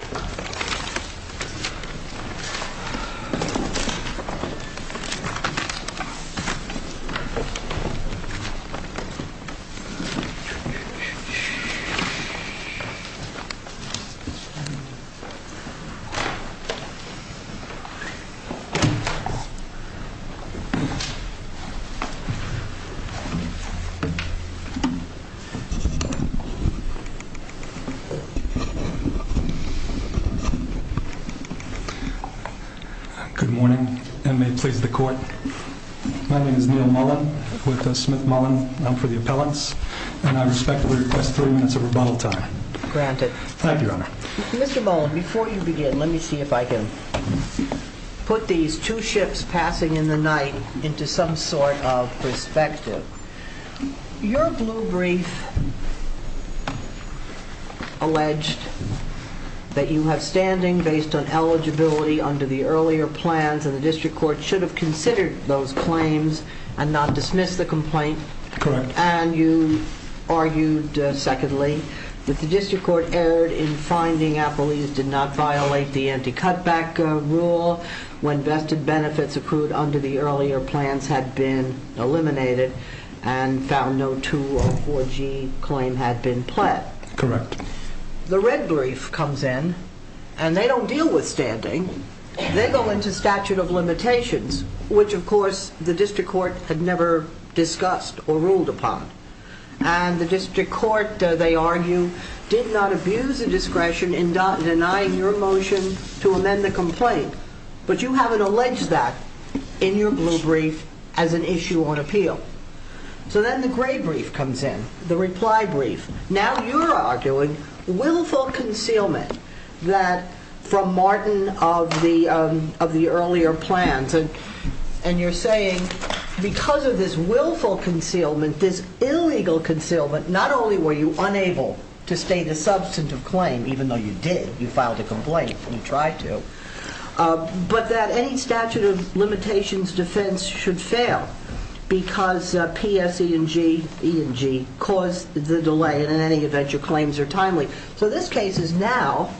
April 22, 2012 Good morning, and may it please the court. My name is Neal Mullen, with Smith Mullen for the appellants, and I respectfully request 30 minutes of rebuttal time. Thank you, Your Honor. Mr. Mullen, before you begin, let me see if I can put these two ships passing in the night into some sort of perspective. Your blue brief alleged that you have standing based on eligibility under the earlier plans, and the district court should have considered those claims and not dismissed the complaint. Correct. And you argued, secondly, that the district court erred in finding appellees did not violate the anti-cutback rule when vested benefits accrued under the earlier plans had been eliminated and found no 2 or 4G claim had been pled. Correct. The red brief comes in, and they don't deal with standing. They go into statute of limitations, which, of course, the district court had never discussed or ruled upon. And the district court, they argue, did not abuse the discretion in denying your motion to amend the complaint, but you haven't alleged that in your blue brief as an issue on appeal. So then the gray brief comes in, the reply brief. Now you're arguing willful concealment from Martin of the earlier plans, and you're saying because of this willful concealment, this illegal concealment, not only were you unable to state a substantive claim, even though you did, you filed a complaint, you tried to, but that any statute of limitations defense should fail because PSE&G caused the delay, and in any event, your claims are timely. So this case is now,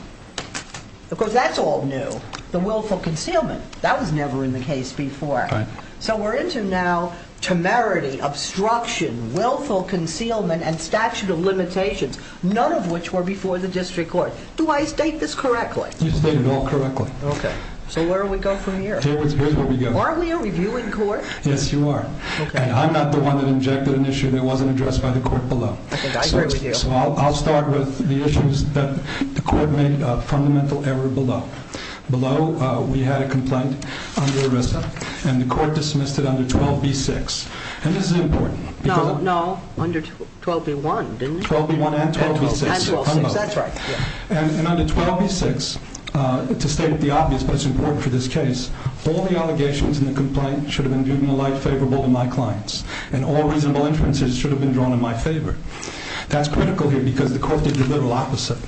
of course, that's all new, the willful concealment. That was never in the case before. Right. So we're into now temerity, obstruction, willful concealment, and statute of limitations, none of which were before the district court. Do I state this correctly? You state it all correctly. Okay. So where do we go from here? Here's where we go. Aren't we a reviewing court? Yes, you are. Okay. And I'm not the one that injected an issue that wasn't addressed by the court below. I think I agree with you. So I'll start with the issues that the court made a fundamental error below. Below, we had a complaint under ERISA, and the court dismissed it under 12B6, and this is important. No, no, under 12B1, didn't it? 12B1 and 12B6. And 12B6, that's right. And under 12B6, to state the obvious, but it's important for this case, all the allegations in the complaint should have been viewed in a light favorable to my clients, and all reasonable inferences should have been drawn in my favor. That's critical here, because the court did the literal opposite.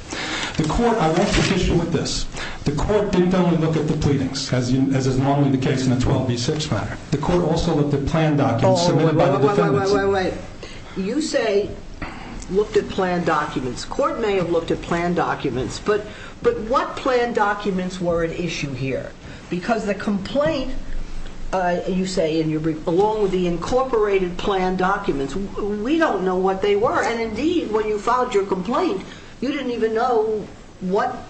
The court, I want to finish with this. The court didn't only look at the pleadings, as is normally the case in the 12B6 matter. The court also looked at planned documents submitted by the defendants. Wait, wait, wait, wait, wait. You say looked at planned documents. The court may have looked at planned documents, but what planned documents were at issue here? Because the complaint, you say, along with the incorporated planned documents, we don't know what they were. And indeed, when you filed your complaint, you didn't even know what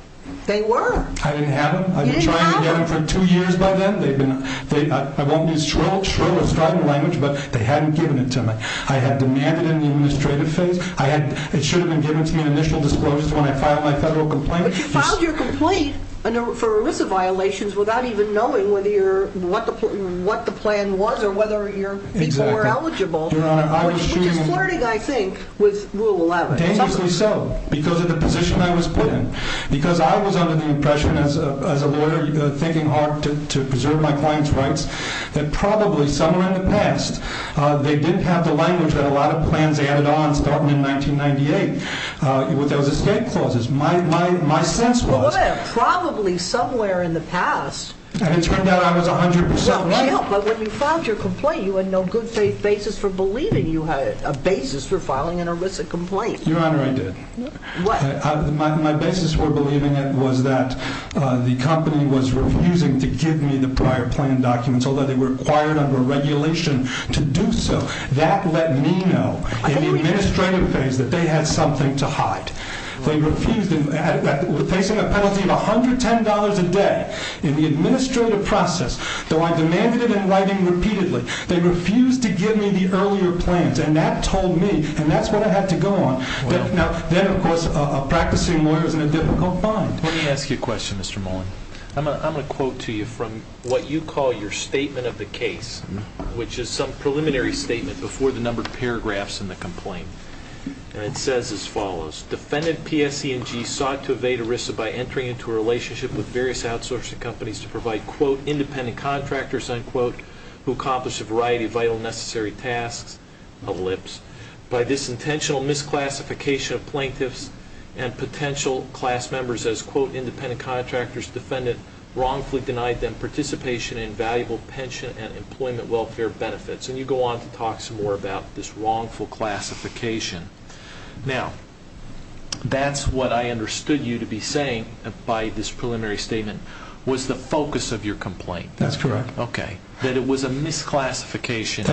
they were. I didn't have them. You didn't have them. I didn't have them for two years by then. I won't use shrill and strident language, but they hadn't given it to me. I had demanded in the administrative phase. It should have been given to me in initial disclosures when I filed my federal complaint. But you filed your complaint for ERISA violations without even knowing what the plan was or whether your people were eligible, which is flirting, I think, with Rule 11. Dangerously so, because of the position I was put in. Because I was under the impression as a lawyer, thinking hard to preserve my client's rights, that probably somewhere in the past, they didn't have the language that a lot of plans added on starting in 1998. There was escape clauses. My sense was. Well, what about probably somewhere in the past? And it turned out I was 100% right. Well, no, but when you filed your complaint, you had no good faith basis for believing you had a basis for filing an ERISA complaint. Your Honor, I did. What? My basis for believing it was that the company was refusing to give me the prior plan documents, although they were required under regulation to do so. That let me know in the administrative phase that they had something to hide. They refused and were facing a penalty of $110 a day in the administrative process, though I demanded it in writing repeatedly. They refused to give me the earlier plans, and that told me, and that's what I had to go on. Now, then, of course, a practicing lawyer is in a difficult bind. Let me ask you a question, Mr. Mullen. I'm going to quote to you from what you call your statement of the case, which is some preliminary statement before the numbered paragraphs in the complaint. And it says as follows. Defendant PSE&G sought to evade ERISA by entering into a relationship with various outsourcing companies to provide, quote, independent contractors, unquote, who accomplished a variety of vital and necessary tasks, ellipse. By this intentional misclassification of plaintiffs and potential class members as, quote, independent contractors, defendant wrongfully denied them participation in valuable pension and employment welfare benefits. And you go on to talk some more about this wrongful classification. Now, that's what I understood you to be saying by this preliminary statement was the focus of your complaint. That's correct. Okay. That it was a misclassification.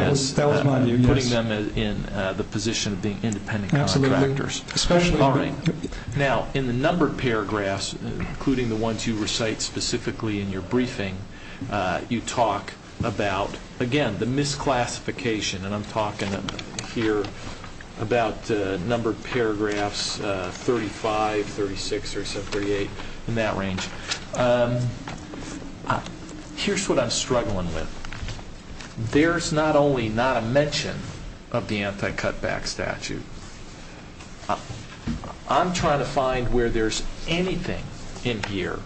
You're putting them in the position of being independent contractors. Absolutely. All right. Now, in the numbered paragraphs, including the ones you recite specifically in your briefing, you talk about, again, the misclassification. And I'm talking here about numbered paragraphs 35, 36, 37, 38, in that range. Here's what I'm struggling with. There's not only not a mention of the anti-cutback statute. I'm trying to find where there's anything in here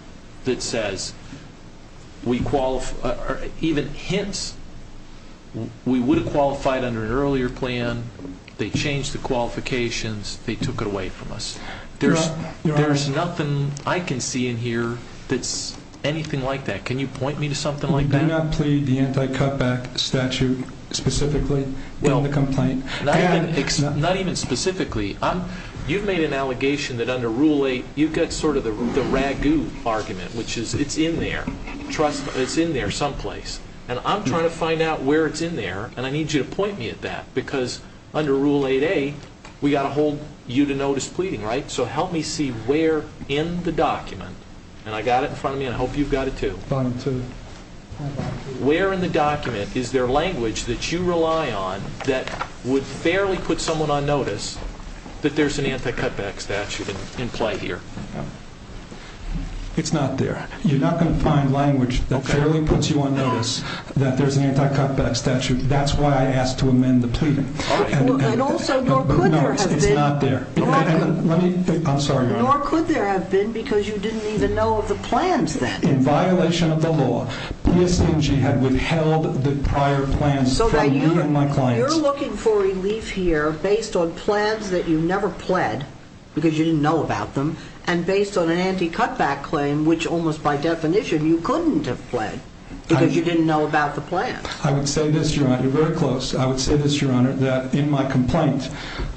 that says we qualify or even hints we would have qualified under an earlier plan. They changed the qualifications. They took it away from us. There's nothing I can see in here that's anything like that. Can you point me to something like that? Did you not plead the anti-cutback statute specifically in the complaint? Not even specifically. You've made an allegation that under Rule 8, you've got sort of the ragu argument, which is it's in there. It's in there someplace. And I'm trying to find out where it's in there, and I need you to point me at that. Because under Rule 8A, we've got to hold you to notice pleading, right? So help me see where in the document. And I've got it in front of me, and I hope you've got it, too. Where in the document is there language that you rely on that would fairly put someone on notice that there's an anti-cutback statute in play here? It's not there. You're not going to find language that fairly puts you on notice that there's an anti-cutback statute. That's why I asked to amend the pleading. And also, nor could there have been. It's not there. Nor could there have been because you didn't even know of the plans then. In violation of the law, PSMG had withheld the prior plans from me and my clients. So you're looking for relief here based on plans that you never pled because you didn't know about them, and based on an anti-cutback claim, which almost by definition you couldn't have pled because you didn't know about the plans. I would say this, Your Honor. You're very close. I would say this, Your Honor, that in my complaint,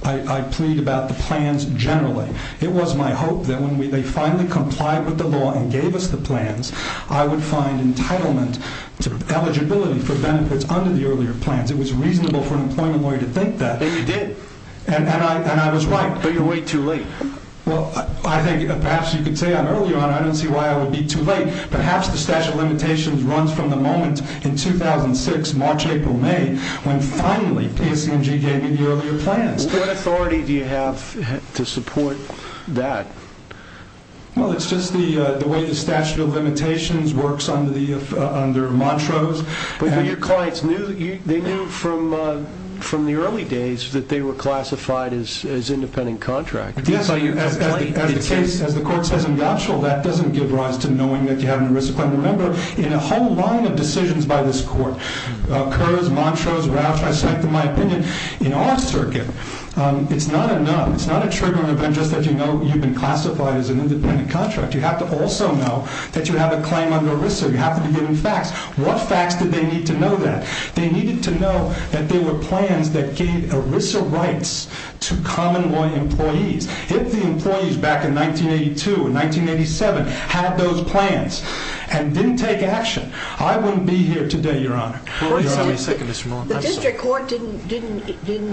I plead about the plans generally. It was my hope that when they finally complied with the law and gave us the plans, I would find entitlement to eligibility for benefits under the earlier plans. It was reasonable for an employment lawyer to think that. And you did. And I was right. But you're way too late. Well, I think perhaps you could say I'm early, Your Honor. I don't see why I would be too late. Perhaps the statute of limitations runs from the moment in 2006, March, April, May, when finally PSMG gave me the earlier plans. What authority do you have to support that? Well, it's just the way the statute of limitations works under Montrose. But your clients, they knew from the early days that they were classified as independent contractors. Yes. As the case, as the court says in Gaucho, that doesn't give rise to knowing that you have an erisic plan. Remember, in a whole line of decisions by this court, Kurz, Montrose, Rauch, I cite them in my opinion, in our circuit, it's not a numb, it's not a triggering event just that you know you've been classified as an independent contractor. You have to also know that you have a claim under ERISA. You have to be given facts. What facts did they need to know that? They needed to know that there were plans that gave ERISA rights to common law employees. If the employees back in 1982 and 1987 had those plans and didn't take action, I wouldn't be here today, Your Honor. The district court didn't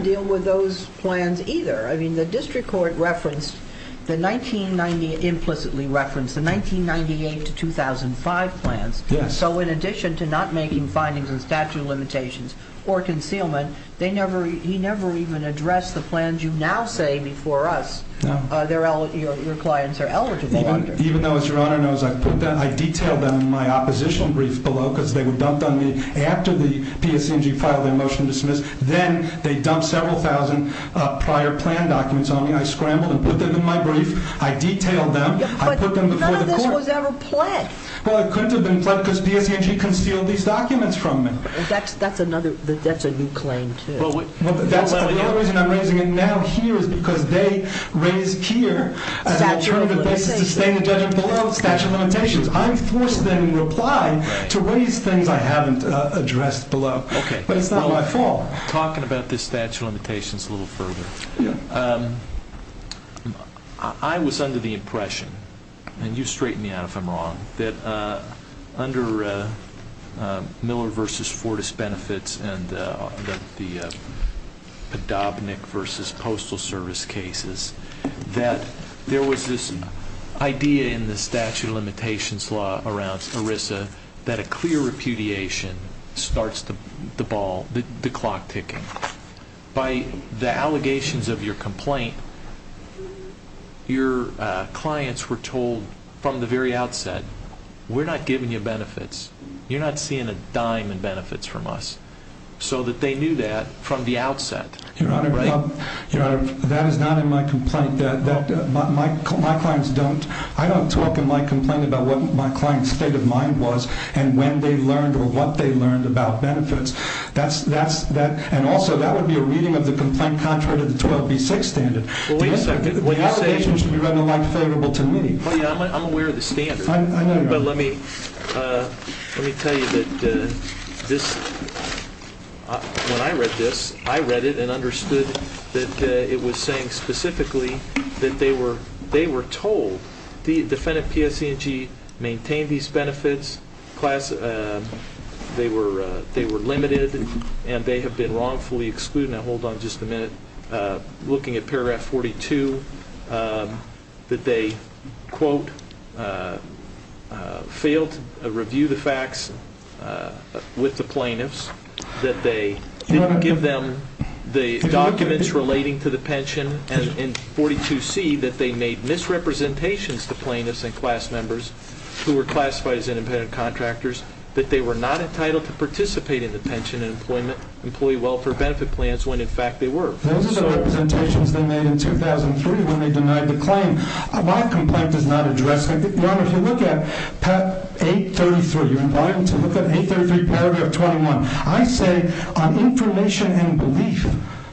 deal with those plans either. I mean, the district court referenced the 1990, implicitly referenced the 1998 to 2005 plans. Yes. So in addition to not making findings in statute of limitations or concealment, they never, he never even addressed the plans you now say before us your clients are eligible under. Even though, as Your Honor knows, I detailed them in my opposition brief below because they were dumped on me after the PSC&G filed their motion to dismiss. Then they dumped several thousand prior plan documents on me. I scrambled and put them in my brief. I detailed them. I put them before the court. But none of this was ever pledged. Well, it couldn't have been pledged because PSC&G concealed these documents from me. That's another, that's a new claim too. The only reason I'm raising it now here is because they raised here as an alternative basis to stay in the judgment below statute of limitations. I'm forced then in reply to raise things I haven't addressed below. Okay. But it's not my fault. Talking about this statute of limitations a little further. Yeah. I was under the impression, and you straighten me out if I'm wrong, that under Miller v. Fortis benefits and the Padovnik v. Postal Service cases, that there was this idea in the statute of limitations law around ERISA that a clear repudiation starts the ball, the clock ticking. By the allegations of your complaint, your clients were told from the very outset, we're not giving you benefits. You're not seeing a dime in benefits from us. So that they knew that from the outset. Your Honor, that is not in my complaint. My clients don't, I don't talk in my complaint about what my client's state of mind was and when they learned or what they learned about benefits. And also, that would be a reading of the complaint contrary to the 12B6 standard. Well, wait a second. The allegations should be read in a light favorable to me. I'm aware of the standard. I know, Your Honor. But let me tell you that this, when I read this, I read it and understood that it was saying specifically that they were told, the defendant PSC&G maintained these benefits. They were limited and they have been wrongfully excluded. Now hold on just a minute. Looking at paragraph 42, that they, quote, failed to review the facts with the plaintiffs. That they didn't give them the documents relating to the pension. And in 42C, that they made misrepresentations to plaintiffs and class members who were classified as independent contractors. That they were not entitled to participate in the pension and employee welfare benefit plans when in fact they were. Those are the representations they made in 2003 when they denied the claim. My complaint does not address that. Your Honor, if you look at 833, you're invited to look at 833 paragraph 21. I say on information and belief,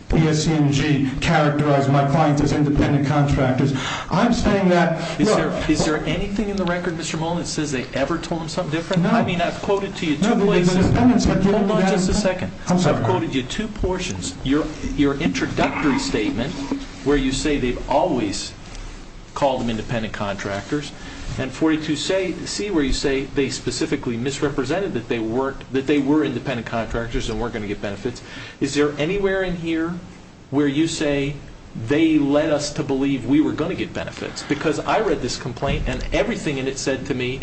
PSC&G characterized my clients as independent contractors. I'm saying that, look. Is there anything in the record, Mr. Mullen, that says they ever told them something different? No. I mean, I've quoted to you two places. No, but the defendants. Hold on just a second. I'm sorry. I've quoted you two portions. Your introductory statement where you say they've always called them independent contractors. And 42C where you say they specifically misrepresented that they were independent contractors and weren't going to get benefits. Is there anywhere in here where you say they led us to believe we were going to get benefits? Because I read this complaint and everything in it said to me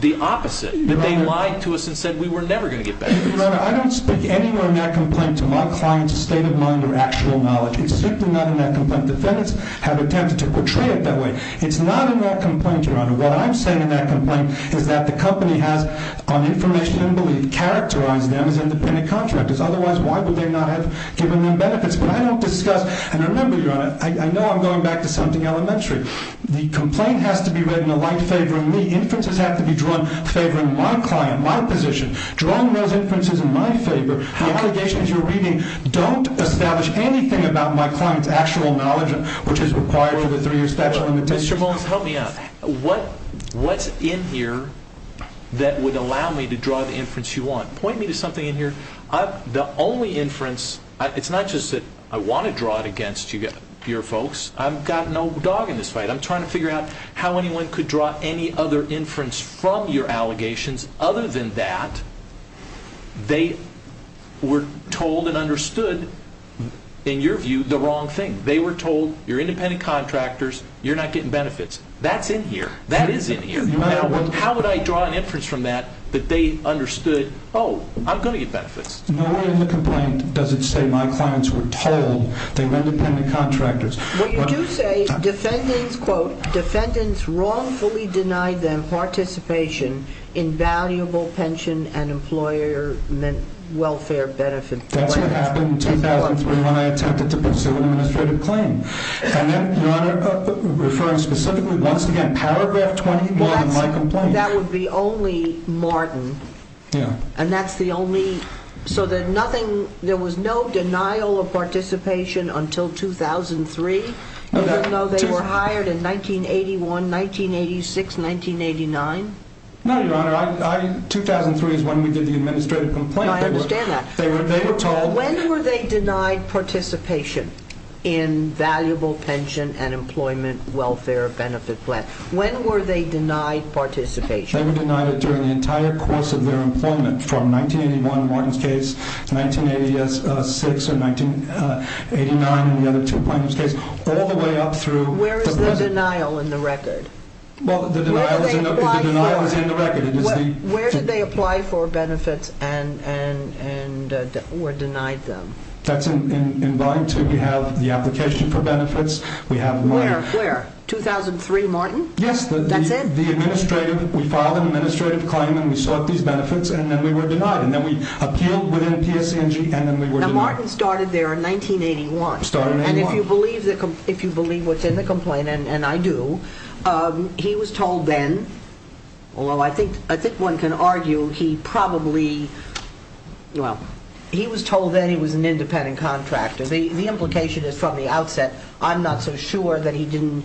the opposite. That they lied to us and said we were never going to get benefits. Your Honor, I don't speak anywhere in that complaint to my client's state of mind or actual knowledge. It's simply not in that complaint. Defendants have attempted to portray it that way. It's not in that complaint, Your Honor. What I'm saying in that complaint is that the company has, on information and belief, characterized them as independent contractors. Otherwise, why would they not have given them benefits? But I don't discuss. And remember, Your Honor, I know I'm going back to something elementary. The complaint has to be read in a light favoring me. Inferences have to be drawn favoring my client, my position. Drawing those inferences in my favor, the allegations you're reading, don't establish anything about my client's actual knowledge, which is required for the three-year statute of limitations. Mr. Mullins, help me out. What's in here that would allow me to draw the inference you want? Point me to something in here. The only inference, it's not just that I want to draw it against your folks. I've got no dog in this fight. I'm trying to figure out how anyone could draw any other inference from your allegations other than that they were told and understood, in your view, the wrong thing. They were told, you're independent contractors, you're not getting benefits. That's in here. That is in here. How would I draw an inference from that that they understood, oh, I'm going to get benefits? No way in the complaint does it say my clients were told they were independent contractors. What you do say, defendants, quote, defendants wrongfully denied them participation in valuable pension and employer welfare benefits. That's what happened in 2003 when I attempted to pursue an administrative claim. And then, Your Honor, referring specifically, once again, paragraph 20 more than my complaint. That would be only Martin. Yeah. And that's the only, so there was no denial of participation until 2003? You don't know they were hired in 1981, 1986, 1989? No, Your Honor. 2003 is when we did the administrative complaint. I understand that. They were told. When were they denied participation in valuable pension and employment welfare benefit plan? When were they denied participation? They were denied it during the entire course of their employment from 1981 in Martin's case, 1986 or 1989 in the other two plaintiffs' case, all the way up through the present. Where is the denial in the record? Well, the denial is in the record. Where did they apply for benefits and were denied them? That's in Volume 2. We have the application for benefits. Where? 2003, Martin? Yes. That's it? We filed an administrative claim and we sought these benefits and then we were denied. And then we appealed within PSC&G and then we were denied. Now, Martin started there in 1981. Started in 1981. And if you believe what's in the complaint, and I do, he was told then, although I think one can argue he probably, well, he was told then he was an independent contractor. The implication is from the outset, I'm not so sure that he didn't,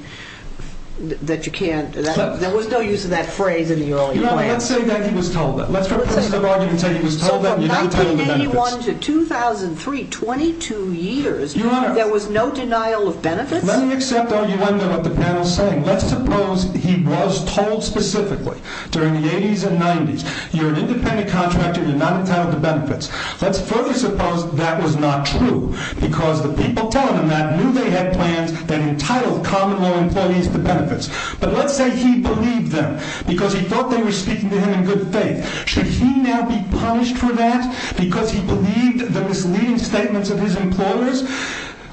that you can't, there was no use of that phrase in the earlier plans. Your Honor, let's say that he was told then. Let's for a person of argument say he was told then. So from 1981 to 2003, 22 years, there was no denial of benefits? Let me accept the argument of what the panel is saying. Let's suppose he was told specifically during the 80s and 90s, you're an independent contractor, you're not entitled to benefits. Let's further suppose that was not true because the people telling him that knew they had plans that entitled common law employees to benefits. But let's say he believed them because he felt they were speaking to him in good faith. Should he now be punished for that because he believed the misleading statements of his employers?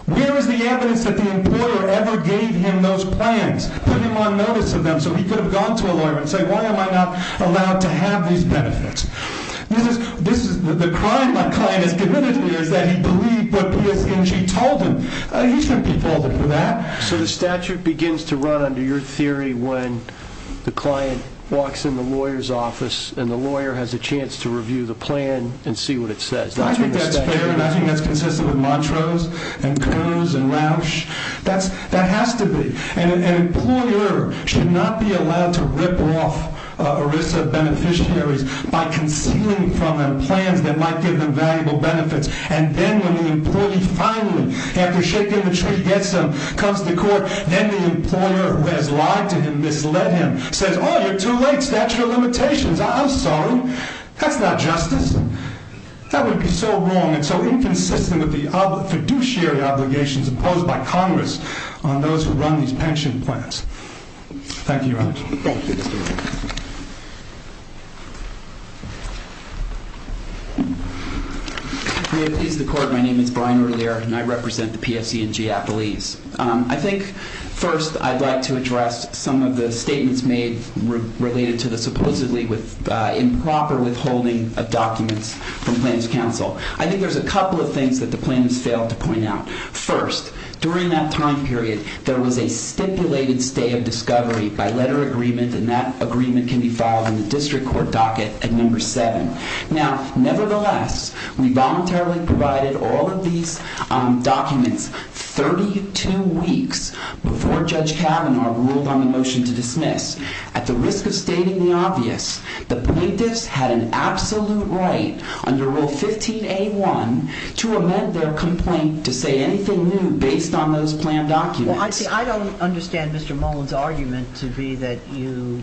Where is the evidence that the employer ever gave him those plans? Put him on notice of them so he could have gone to a lawyer and say, why am I not allowed to have these benefits? The crime my client has committed to me is that he believed what PSNG told him. He shouldn't be held for that. So the statute begins to run under your theory when the client walks in the lawyer's office and the lawyer has a chance to review the plan and see what it says. I think that's fair and I think that's consistent with Montrose and Coase and Rausch. That has to be. An employer should not be allowed to rip off a risk of beneficiaries by concealing from them plans that might give them valuable benefits. And then when the employee finally, after shaking the tree, gets them, comes to court, then the employer who has lied to him, misled him, says, oh, you're too late, statute of limitations. I'm sorry. That's not justice. That would be so wrong and so inconsistent with the fiduciary obligations imposed by Congress on those who run these pension plans. Thank you. Is the court. My name is Brian earlier and I represent the PSNG at Belize. I think first I'd like to address some of the statements made related to the supposedly with improper withholding of documents from Plans Council. I think there's a couple of things that the plan has failed to point out. First, during that time period, there was a stipulated stay of discovery by letter agreement. And that agreement can be filed in the district court docket at number seven. Now, nevertheless, we voluntarily provided all of these documents 32 weeks before Judge Kavanaugh ruled on the motion to dismiss. At the risk of stating the obvious, the plaintiffs had an absolute right under Rule 15A1 to amend their complaint to say anything new based on those plan documents. Well, I don't understand Mr. Mullen's argument to be that you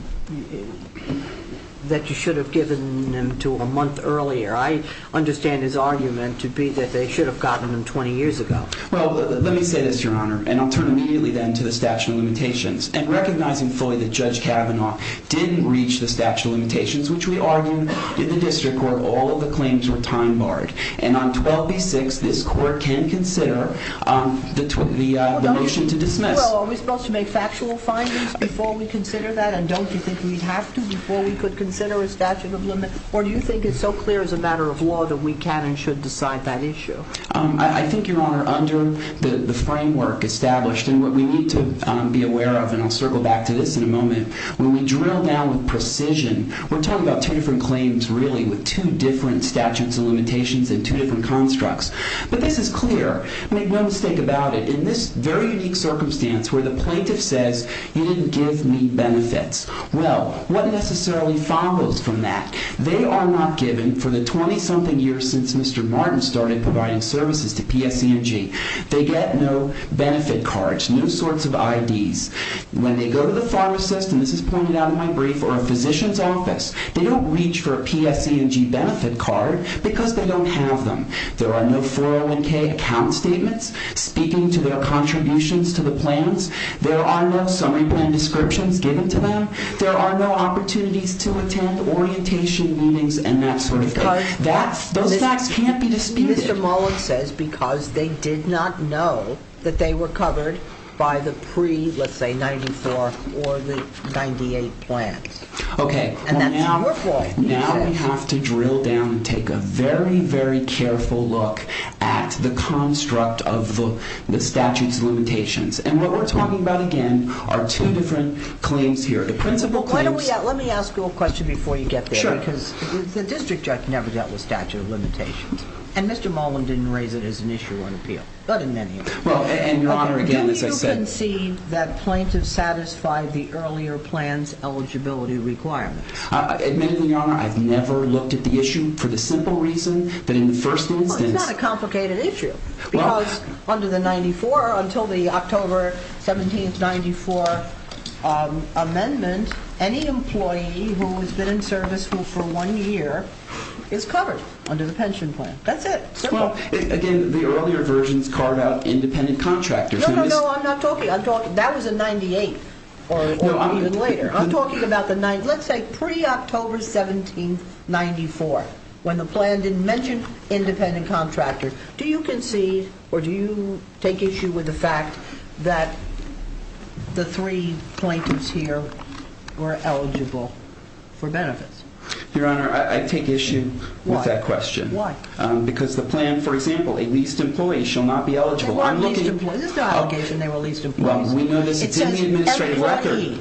should have given them to a month earlier. I understand his argument to be that they should have gotten them 20 years ago. Well, let me say this, Your Honor, and I'll turn immediately then to the statute of limitations. And recognizing fully that Judge Kavanaugh didn't reach the statute of limitations, which we argued in the district court, all of the claims were time barred. And on 12B6, this court can consider the motion to dismiss. Well, are we supposed to make factual findings before we consider that? And don't you think we'd have to before we could consider a statute of limit? Or do you think it's so clear as a matter of law that we can and should decide that issue? I think, Your Honor, under the framework established, and what we need to be aware of, and I'll circle back to this in a moment, when we drill down with precision, we're talking about two different claims, really, with two different statutes of limitations and two different constructs. But this is clear. Make no mistake about it. In this very unique circumstance where the plaintiff says, you didn't give me benefits, well, what necessarily follows from that? They are not given for the 20-something years since Mr. Martin started providing services to PSC&G. They get no benefit cards, no sorts of IDs. When they go to the pharmacist, and this is pointed out in my brief, or a physician's office, they don't reach for a PSC&G benefit card because they don't have them. There are no 401K account statements speaking to their contributions to the plans. There are no summary plan descriptions given to them. There are no opportunities to attend orientation meetings and that sort of thing. Those facts can't be disputed. Mr. Mullen says because they did not know that they were covered by the pre, let's say, 94 or the 98 plans. Okay. And that's your fault. Now we have to drill down and take a very, very careful look at the construct of the statute's limitations. And what we're talking about, again, are two different claims here. The principal claims... Let me ask you a question before you get there because the district judge never dealt with statute of limitations. And Mr. Mullen didn't raise it as an issue on appeal, but in many of them. Well, and, Your Honor, again, as I said... Did you concede that plaintiffs satisfied the earlier plan's eligibility requirements? Admittedly, Your Honor, I've never looked at the issue for the simple reason that in the first instance... Well, it's not a complicated issue because under the 94, until the October 17th, 94 amendment, any employee who has been in service for one year is covered under the pension plan. That's it. Well, again, the earlier versions carved out independent contractors. No, no, no, I'm not talking... That was in 98 or even later. I'm talking about the nine... Let's say pre-October 17th, 94, when the plan didn't mention independent contractors. Do you concede or do you take issue with the fact that the three plaintiffs here were eligible for benefits? Your Honor, I take issue with that question. Why? Because the plan, for example, a leased employee shall not be eligible. They weren't leased employees. This is not an allegation they were leased employees. Well, we know this is in the administrative record.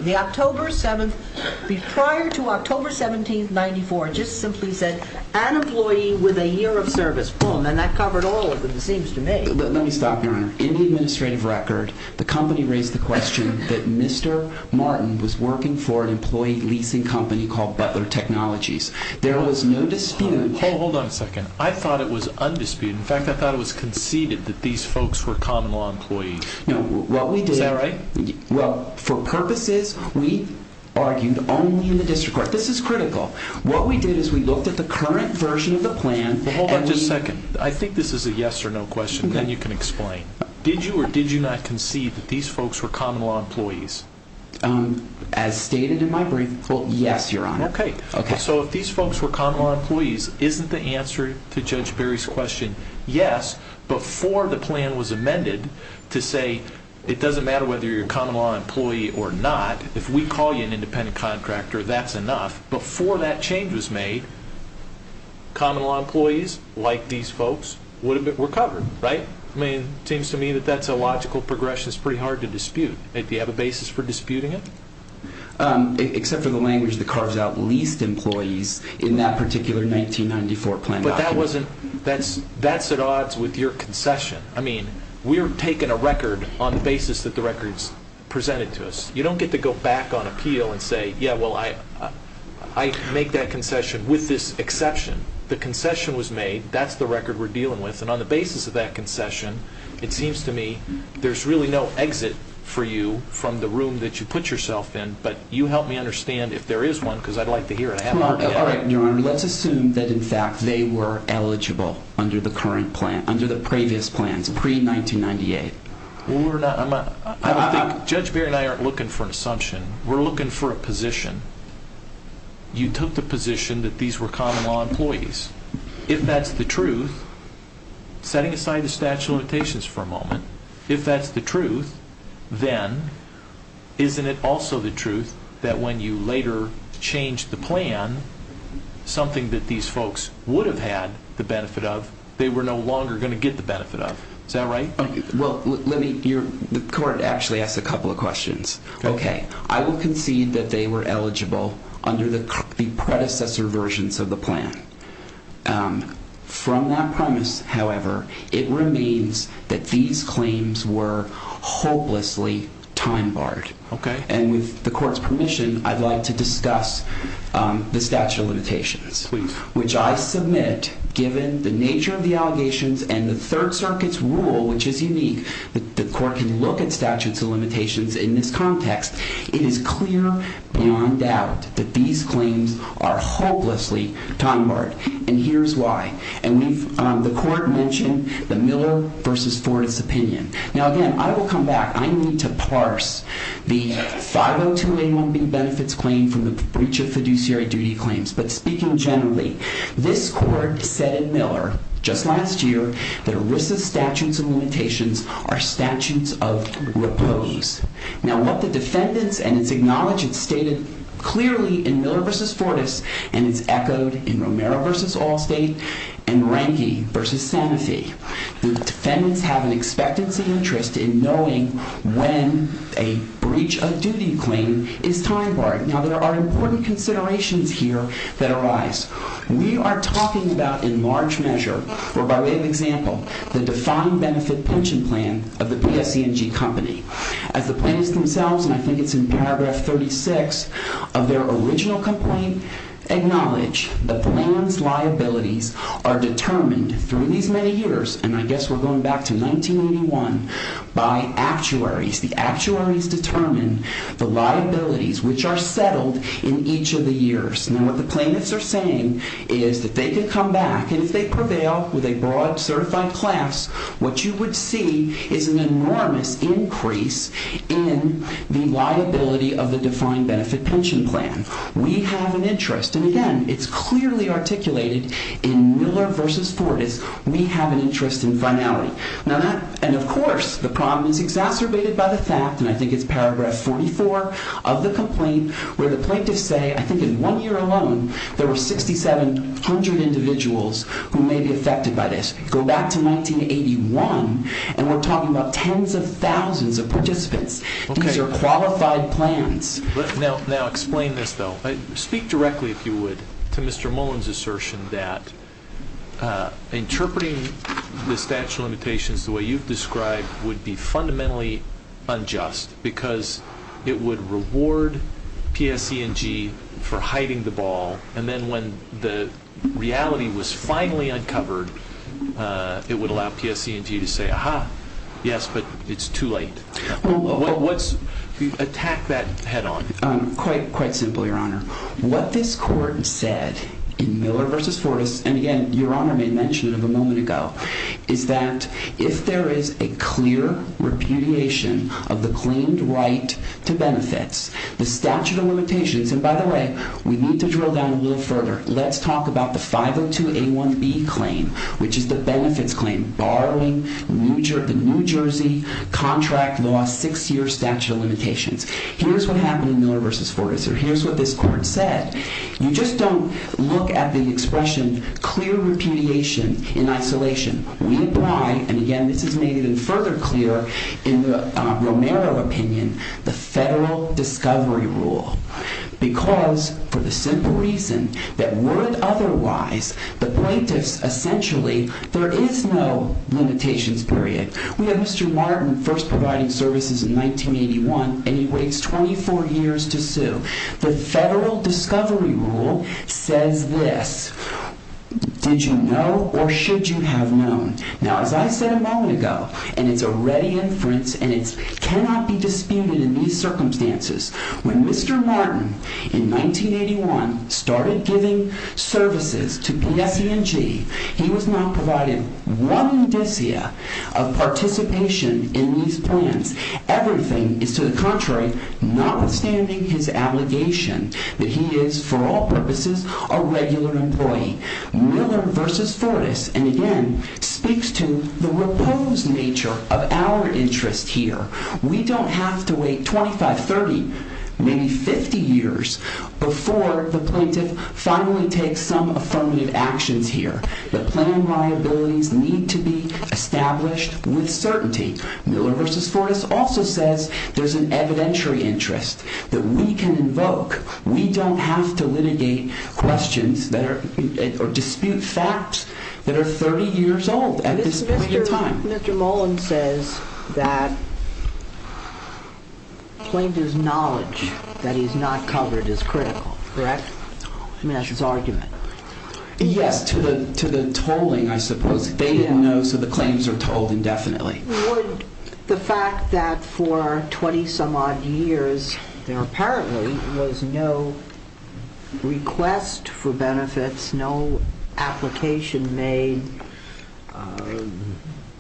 Prior to October 17th, 94, it just simply said an employee with a year of service. Boom. And that covered all of them, it seems to me. Let me stop, Your Honor. In the administrative record, the company raised the question that Mr. Martin was working for an employee leasing company called Butler Technologies. There was no dispute... Hold on a second. I thought it was undisputed. In fact, I thought it was conceded that these folks were common law employees. Is that right? Well, for purposes we argued only in the district court. This is critical. What we did is we looked at the current version of the plan... Hold on just a second. I think this is a yes or no question. Then you can explain. Did you or did you not concede that these folks were common law employees? As stated in my brief, yes, Your Honor. Okay. So if these folks were common law employees, isn't the answer to Judge Berry's question yes, before the plan was amended to say it doesn't matter whether you're a common law employee or not. If we call you an independent contractor, that's enough. Before that change was made, common law employees like these folks were covered, right? I mean, it seems to me that that's a logical progression. It's pretty hard to dispute. Do you have a basis for disputing it? Except for the language that carves out leased employees in that particular 1994 plan document. But that's at odds with your concession. I mean, we're taking a record on the basis that the record's presented to us. You don't get to go back on appeal and say, yeah, well, I make that concession with this exception. The concession was made. That's the record we're dealing with. And on the basis of that concession, it seems to me there's really no exit for you from the room that you put yourself in. But you help me understand if there is one because I'd like to hear it. All right, Your Honor. Let's assume that, in fact, they were eligible under the current plan, under the previous plans, pre-1998. Well, we're not. Judge Beare and I aren't looking for an assumption. We're looking for a position. You took the position that these were common law employees. If that's the truth, setting aside the statute of limitations for a moment, if that's the truth, then isn't it also the truth that when you later change the plan, something that these folks would have had the benefit of, they were no longer going to get the benefit of? Is that right? Well, let me be clear. The court actually asked a couple of questions. Okay. I will concede that they were eligible under the predecessor versions of the plan. From that premise, however, it remains that these claims were hopelessly time-barred. Okay. And with the court's permission, I'd like to discuss the statute of limitations. Please. Which I submit, given the nature of the allegations and the Third Circuit's rule, which is unique, that the court can look at statutes of limitations in this context, it is clear beyond doubt that these claims are hopelessly time-barred. And here's why. And the court mentioned the Miller v. Ford's opinion. Now, again, I will come back. I need to parse the 50281B benefits claim from the breach of fiduciary duty claims. But speaking generally, this court said in Miller just last year that ERISA's statutes of limitations are statutes of repose. Now, what the defendants and its acknowledgements stated clearly in Miller v. Ford's and is echoed in Romero v. Allstate and Renge v. Sanofi, the defendants have an expectancy interest in knowing when a breach of duty claim is time-barred. Now, there are important considerations here that arise. We are talking about in large measure, or by way of example, the defined benefit pension plan of the PSC&G company. As the plaintiffs themselves, and I think it's in paragraph 36 of their original complaint, acknowledge the plan's liabilities are determined through these many years, and I guess we're going back to 1981, by actuaries. The actuaries determine the liabilities which are settled in each of the years. Now, what the plaintiffs are saying is that they could come back, and if they prevail with a broad, certified class, what you would see is an enormous increase in the liability of the defined benefit pension plan. We have an interest, and again, it's clearly articulated in Miller v. Ford, is we have an interest in finality. And of course, the problem is exacerbated by the fact, and I think it's paragraph 44 of the complaint, where the plaintiffs say, I think in one year alone, there were 6,700 individuals who may be affected by this. Go back to 1981, and we're talking about tens of thousands of participants. These are qualified plans. Now, explain this, though. Speak directly, if you would, to Mr. Mullen's assertion that interpreting the statute of limitations the way you've described would be fundamentally unjust because it would reward PSC&G for hiding the ball, and then when the reality was finally uncovered, it would allow PSC&G to say, Aha, yes, but it's too late. Attack that head-on. Quite simple, Your Honor. What this court said in Miller v. Ford, and again, Your Honor made mention of it a moment ago, is that if there is a clear repudiation of the claimed right to benefits, the statute of limitations, and by the way, we need to drill down a little further. Let's talk about the 502A1B claim, which is the benefits claim, borrowing the New Jersey contract law six-year statute of limitations. Here's what happened in Miller v. Ford, or here's what this court said. You just don't look at the expression clear repudiation in isolation. We apply, and again, this is made even further clear in the Romero opinion, the federal discovery rule because for the simple reason that would otherwise, the plaintiffs essentially, there is no limitations period. We have Mr. Martin first providing services in 1981, and he waits 24 years to sue. The federal discovery rule says this, did you know or should you have known? Now, as I said a moment ago, and it's a ready inference, and it cannot be disputed in these circumstances. When Mr. Martin, in 1981, started giving services to PSE&G, he was not provided one indicia of participation in these plans. Everything is to the contrary, notwithstanding his allegation that he is, for all purposes, a regular employee. Miller v. Ford, and again, speaks to the reposed nature of our interest here. We don't have to wait 25, 30, maybe 50 years before the plaintiff finally takes some affirmative actions here. The plan liabilities need to be established with certainty. Miller v. Ford also says there's an evidentiary interest that we can invoke. We don't have to litigate questions or dispute facts that are 30 years old at this point in time. Dr. Mullen says that plaintiff's knowledge that he's not covered is critical, correct? I mean that's his argument. Yes, to the tolling, I suppose. They didn't know, so the claims are tolled indefinitely. Would the fact that for 20 some odd years there apparently was no request for benefits, no application made,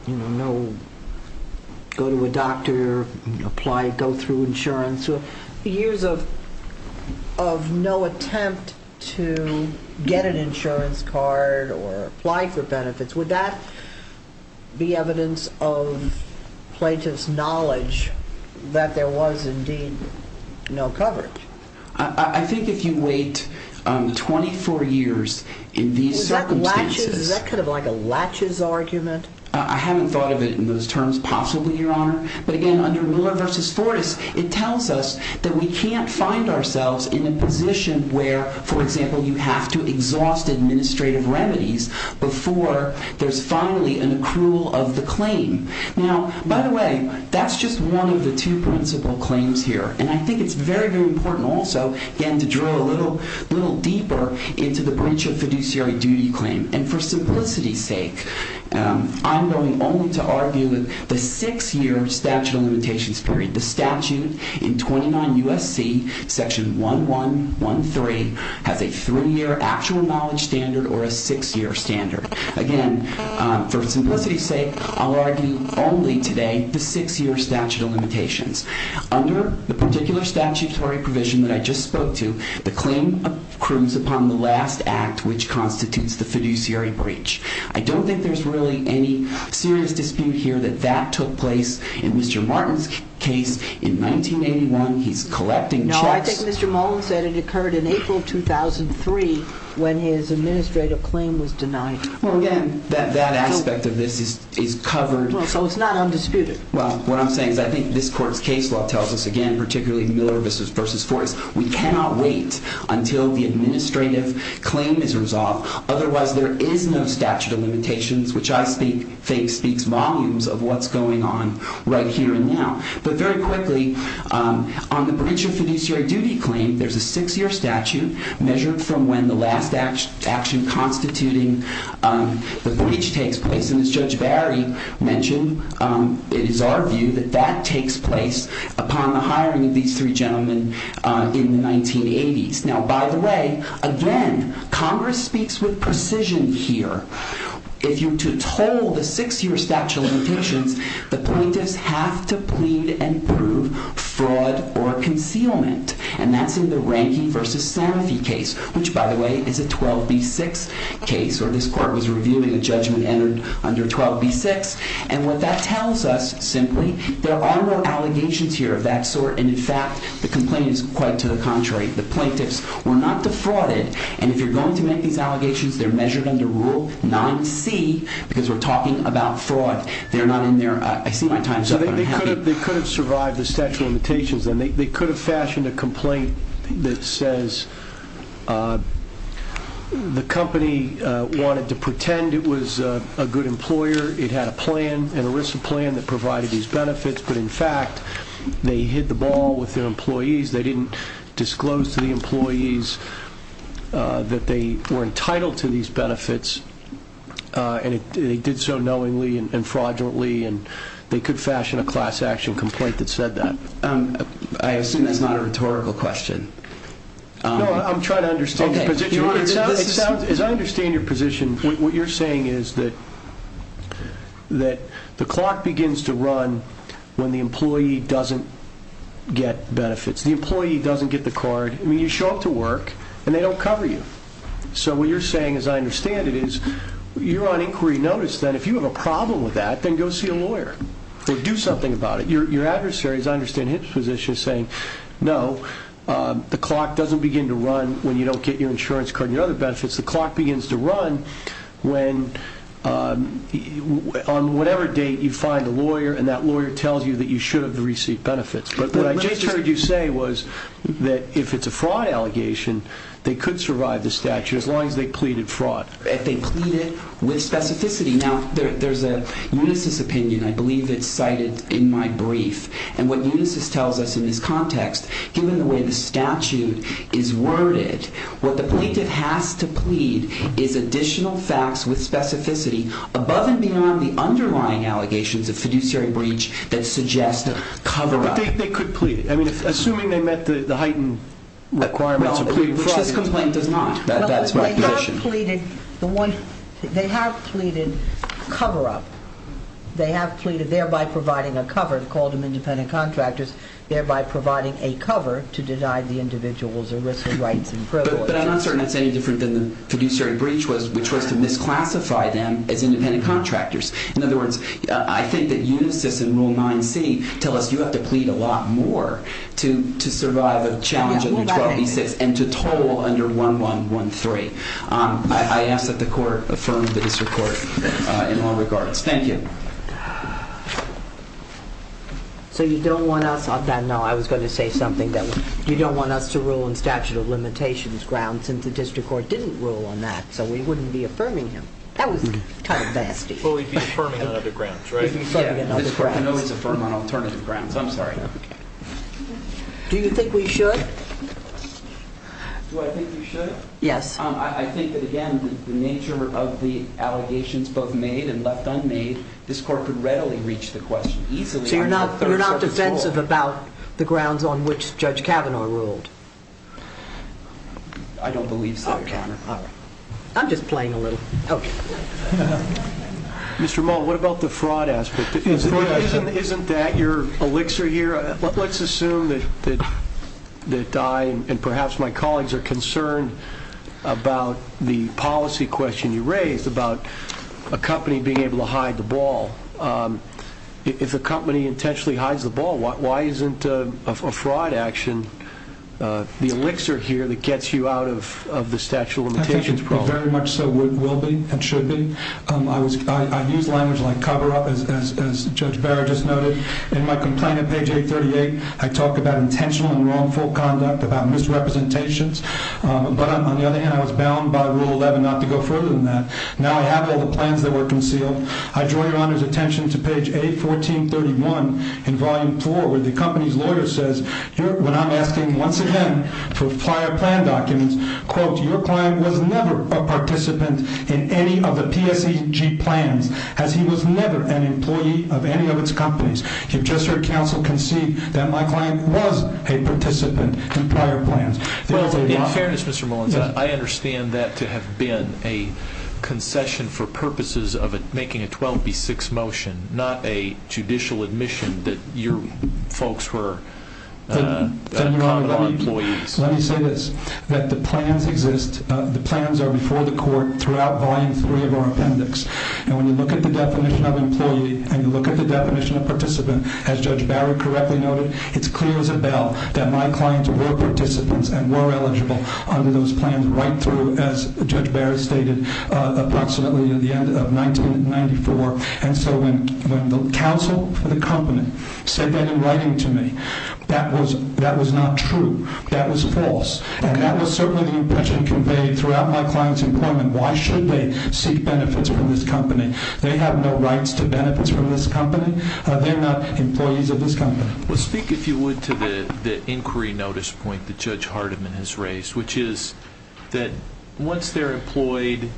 no go to a doctor, apply, go through insurance, years of no attempt to get an insurance card or apply for benefits, would that be evidence of plaintiff's knowledge that there was indeed no coverage? I think if you wait 24 years in these circumstances... Is that kind of like a latches argument? I haven't thought of it in those terms, possibly, Your Honor. But, again, under Miller v. Ford it tells us that we can't find ourselves in a position where, for example, you have to exhaust administrative remedies before there's finally an accrual of the claim. Now, by the way, that's just one of the two principal claims here. And I think it's very, very important also, again, to drill a little deeper into the breach of fiduciary duty claim. And for simplicity's sake, I'm going only to argue the six-year statute of limitations period. The statute in 29 U.S.C., Section 1113, has a three-year actual knowledge standard or a six-year standard. Again, for simplicity's sake, I'll argue only today the six-year statute of limitations. Under the particular statutory provision that I just spoke to, the claim accrues upon the last act, which constitutes the fiduciary breach. I don't think there's really any serious dispute here that that took place in Mr. Martin's case in 1981. He's collecting checks. No, I think Mr. Mullen said it occurred in April 2003 when his administrative claim was denied. Well, again, that aspect of this is covered. Well, so it's not undisputed. Well, what I'm saying is I think this Court's case law tells us, again, particularly Miller v. Ford, we cannot wait until the administrative claim is resolved. Otherwise, there is no statute of limitations, which I think speaks volumes of what's going on right here and now. But very quickly, on the breach of fiduciary duty claim, there's a six-year statute measured from when the last action constituting the breach takes place. And as Judge Barry mentioned, it is our view that that takes place upon the hiring of these three gentlemen in the 1980s. Now, by the way, again, Congress speaks with precision here. If you're to toll the six-year statute of limitations, the plaintiffs have to plead and prove fraud or concealment. And that's in the Rankey v. Sanofi case, which, by the way, is a 12B6 case, or this Court was reviewing a judgment entered under 12B6. And what that tells us, simply, there are no allegations here of that sort. And, in fact, the complaint is quite to the contrary. The plaintiffs were not defrauded. And if you're going to make these allegations, they're measured under Rule 9C because we're talking about fraud. They're not in there. I see my time's up, and I'm happy. They could have survived the statute of limitations, and they could have fashioned a complaint that says the company wanted to pretend it was a good employer. It had a plan, an ERISA plan, that provided these benefits. But, in fact, they hit the ball with their employees. They didn't disclose to the employees that they were entitled to these benefits, and they did so knowingly and fraudulently. And they could fashion a class action complaint that said that. I assume that's not a rhetorical question. No, I'm trying to understand your position. As I understand your position, what you're saying is that the clock begins to run when the employee doesn't get benefits. The employee doesn't get the card. I mean, you show up to work, and they don't cover you. So what you're saying, as I understand it, is you're on inquiry notice, then. If you have a problem with that, then go see a lawyer or do something about it. Your adversary, as I understand his position, is saying, no, the clock doesn't begin to run when you don't get your insurance card and your other benefits. The clock begins to run on whatever date you find a lawyer, and that lawyer tells you that you should have received benefits. But what I just heard you say was that if it's a fraud allegation, they could survive the statute as long as they pleaded fraud. If they pleaded with specificity. Now, there's a Unisys opinion. I believe it's cited in my brief. And what Unisys tells us in this context, given the way the statute is worded, what the plaintiff has to plead is additional facts with specificity above and beyond the underlying allegations of fiduciary breach that suggest cover-up. They could plead. I mean, assuming they met the heightened requirements of pleading fraud. Which this complaint does not. That's my position. They have pleaded cover-up. They have pleaded thereby providing a cover, called them independent contractors, thereby providing a cover to deny the individuals a risk of rights and privileges. But I'm not certain that's any different than the fiduciary breach, which was to misclassify them as independent contractors. In other words, I think that Unisys and Rule 9c tell us you have to plead a lot more to survive a challenge under 12e6 and to toll under 1113. I ask that the court affirm the district court in all regards. Thank you. So you don't want us on that? No, I was going to say something that you don't want us to rule in statute of limitations grounds since the district court didn't rule on that. So we wouldn't be affirming him. That was kind of nasty. But we'd be affirming on other grounds, right? We'd be affirming on other grounds. This court can always affirm on alternative grounds. I'm sorry. Do you think we should? Do I think we should? Yes. I think that, again, the nature of the allegations both made and left unmade, this court could readily reach the question easily. So you're not defensive about the grounds on which Judge Kavanaugh ruled? I don't believe so, Your Honor. I'm just playing a little. Mr. Mullen, what about the fraud aspect? Isn't that your elixir here? Let's assume that I and perhaps my colleagues are concerned about the policy question you raised about a company being able to hide the ball. If a company intentionally hides the ball, why isn't a fraud action the elixir here that gets you out of the statute of limitations problem? I think it very much so will be and should be. I use language like cover-up, as Judge Barrett just noted. In my complaint at page 838, I talk about intentional and wrongful conduct, about misrepresentations. But on the other hand, I was bound by Rule 11 not to go further than that. Now I have all the plans that were concealed. I draw Your Honor's attention to page 814.31 in Volume 4 where the company's lawyer says, when I'm asking once again for prior plan documents, quote, your client was never a participant in any of the PSEG plans as he was never an employee of any of its companies. You've just heard counsel concede that my client was a participant in prior plans. In fairness, Mr. Mullins, I understand that to have been a concession for purposes of making a 12B6 motion, not a judicial admission that your folks were common law employees. Let me say this, that the plans exist. The plans are before the court throughout Volume 3 of our appendix. And when you look at the definition of employee and you look at the definition of participant, as Judge Barrett correctly noted, it's clear as a bell that my clients were participants and were eligible under those plans right through, as Judge Barrett stated, approximately at the end of 1994. And so when the counsel for the company said that in writing to me, that was not true. That was false. And that was certainly the impression conveyed throughout my client's employment. Why should they seek benefits from this company? They have no rights to benefits from this company. They're not employees of this company. Well, speak, if you would, to the inquiry notice point that Judge Hardiman has raised, which is that once they're employed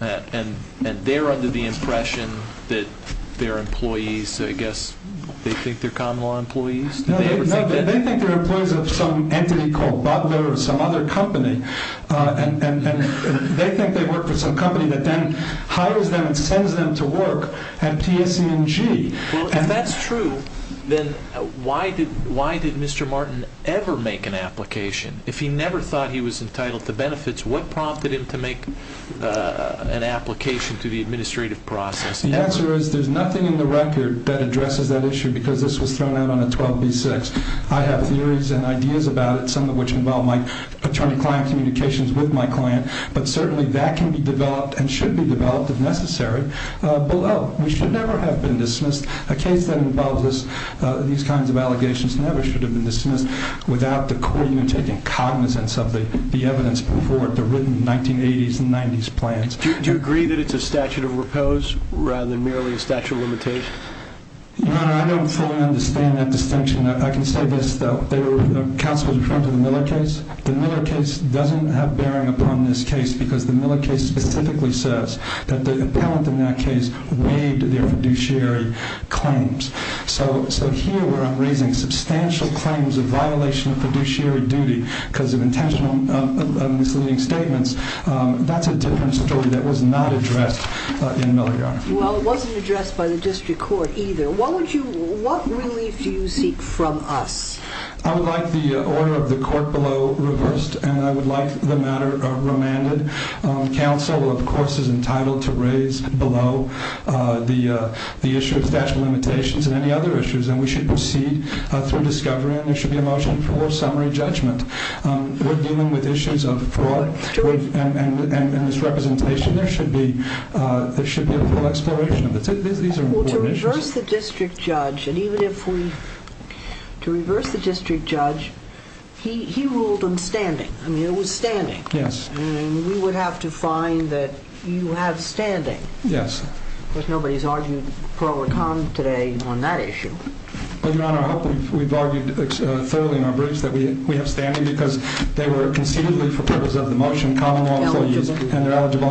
and they're under the impression that they're employees, I guess they think they're common law employees? No, they think they're employees of some entity called Butler or some other company. And they think they work for some company that then hires them and sends them to work at TSC&G. Well, if that's true, then why did Mr. Martin ever make an application? If he never thought he was entitled to benefits, what prompted him to make an application to the administrative process? The answer is there's nothing in the record that addresses that issue because this was thrown out on a 12b-6. I have theories and ideas about it, some of which involve my attorney-client communications with my client, but certainly that can be developed and should be developed, if necessary, below. We should never have been dismissed. A case that involves these kinds of allegations never should have been dismissed without the court even taking cognizance of the evidence before it, the written 1980s and 1990s plans. Do you agree that it's a statute of repose rather than merely a statute of limitation? Your Honor, I don't fully understand that distinction. I can say this, though. Counsel was referring to the Miller case. The Miller case doesn't have bearing upon this case because the Miller case specifically says that the appellant in that case waived their fiduciary claims. So here we're raising substantial claims of violation of fiduciary duty because of intentional misleading statements. That's a different story that was not addressed in Miller, Your Honor. Well, it wasn't addressed by the district court either. What relief do you seek from us? I would like the order of the court below reversed, and I would like the matter remanded. Counsel, of course, is entitled to raise below the issue of statute of limitations and any other issues, and we should proceed through discovery, and there should be a motion for summary judgment. We're dealing with issues of fraud and misrepresentation. There should be a full exploration of it. These are important issues. Well, to reverse the district judge, and even if we – to reverse the district judge, he ruled on standing. I mean, it was standing. Yes. And we would have to find that you have standing. Yes. Of course, nobody's argued pro or con today on that issue. Well, Your Honor, I hope we've argued thoroughly in our briefs that we have standing because they were conceivably for purpose of the motion, common law, and they're eligible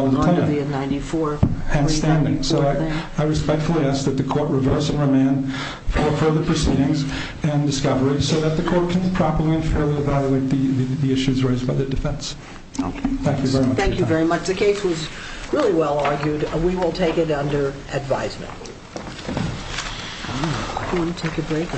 to the claim. And standing. So I respectfully ask that the court reverse and remand further proceedings and discovery so that the court can properly and fairly evaluate the issues raised by the defense. Thank you very much for your time. Thank you very much. The case was really well argued, and we will take it under advisement.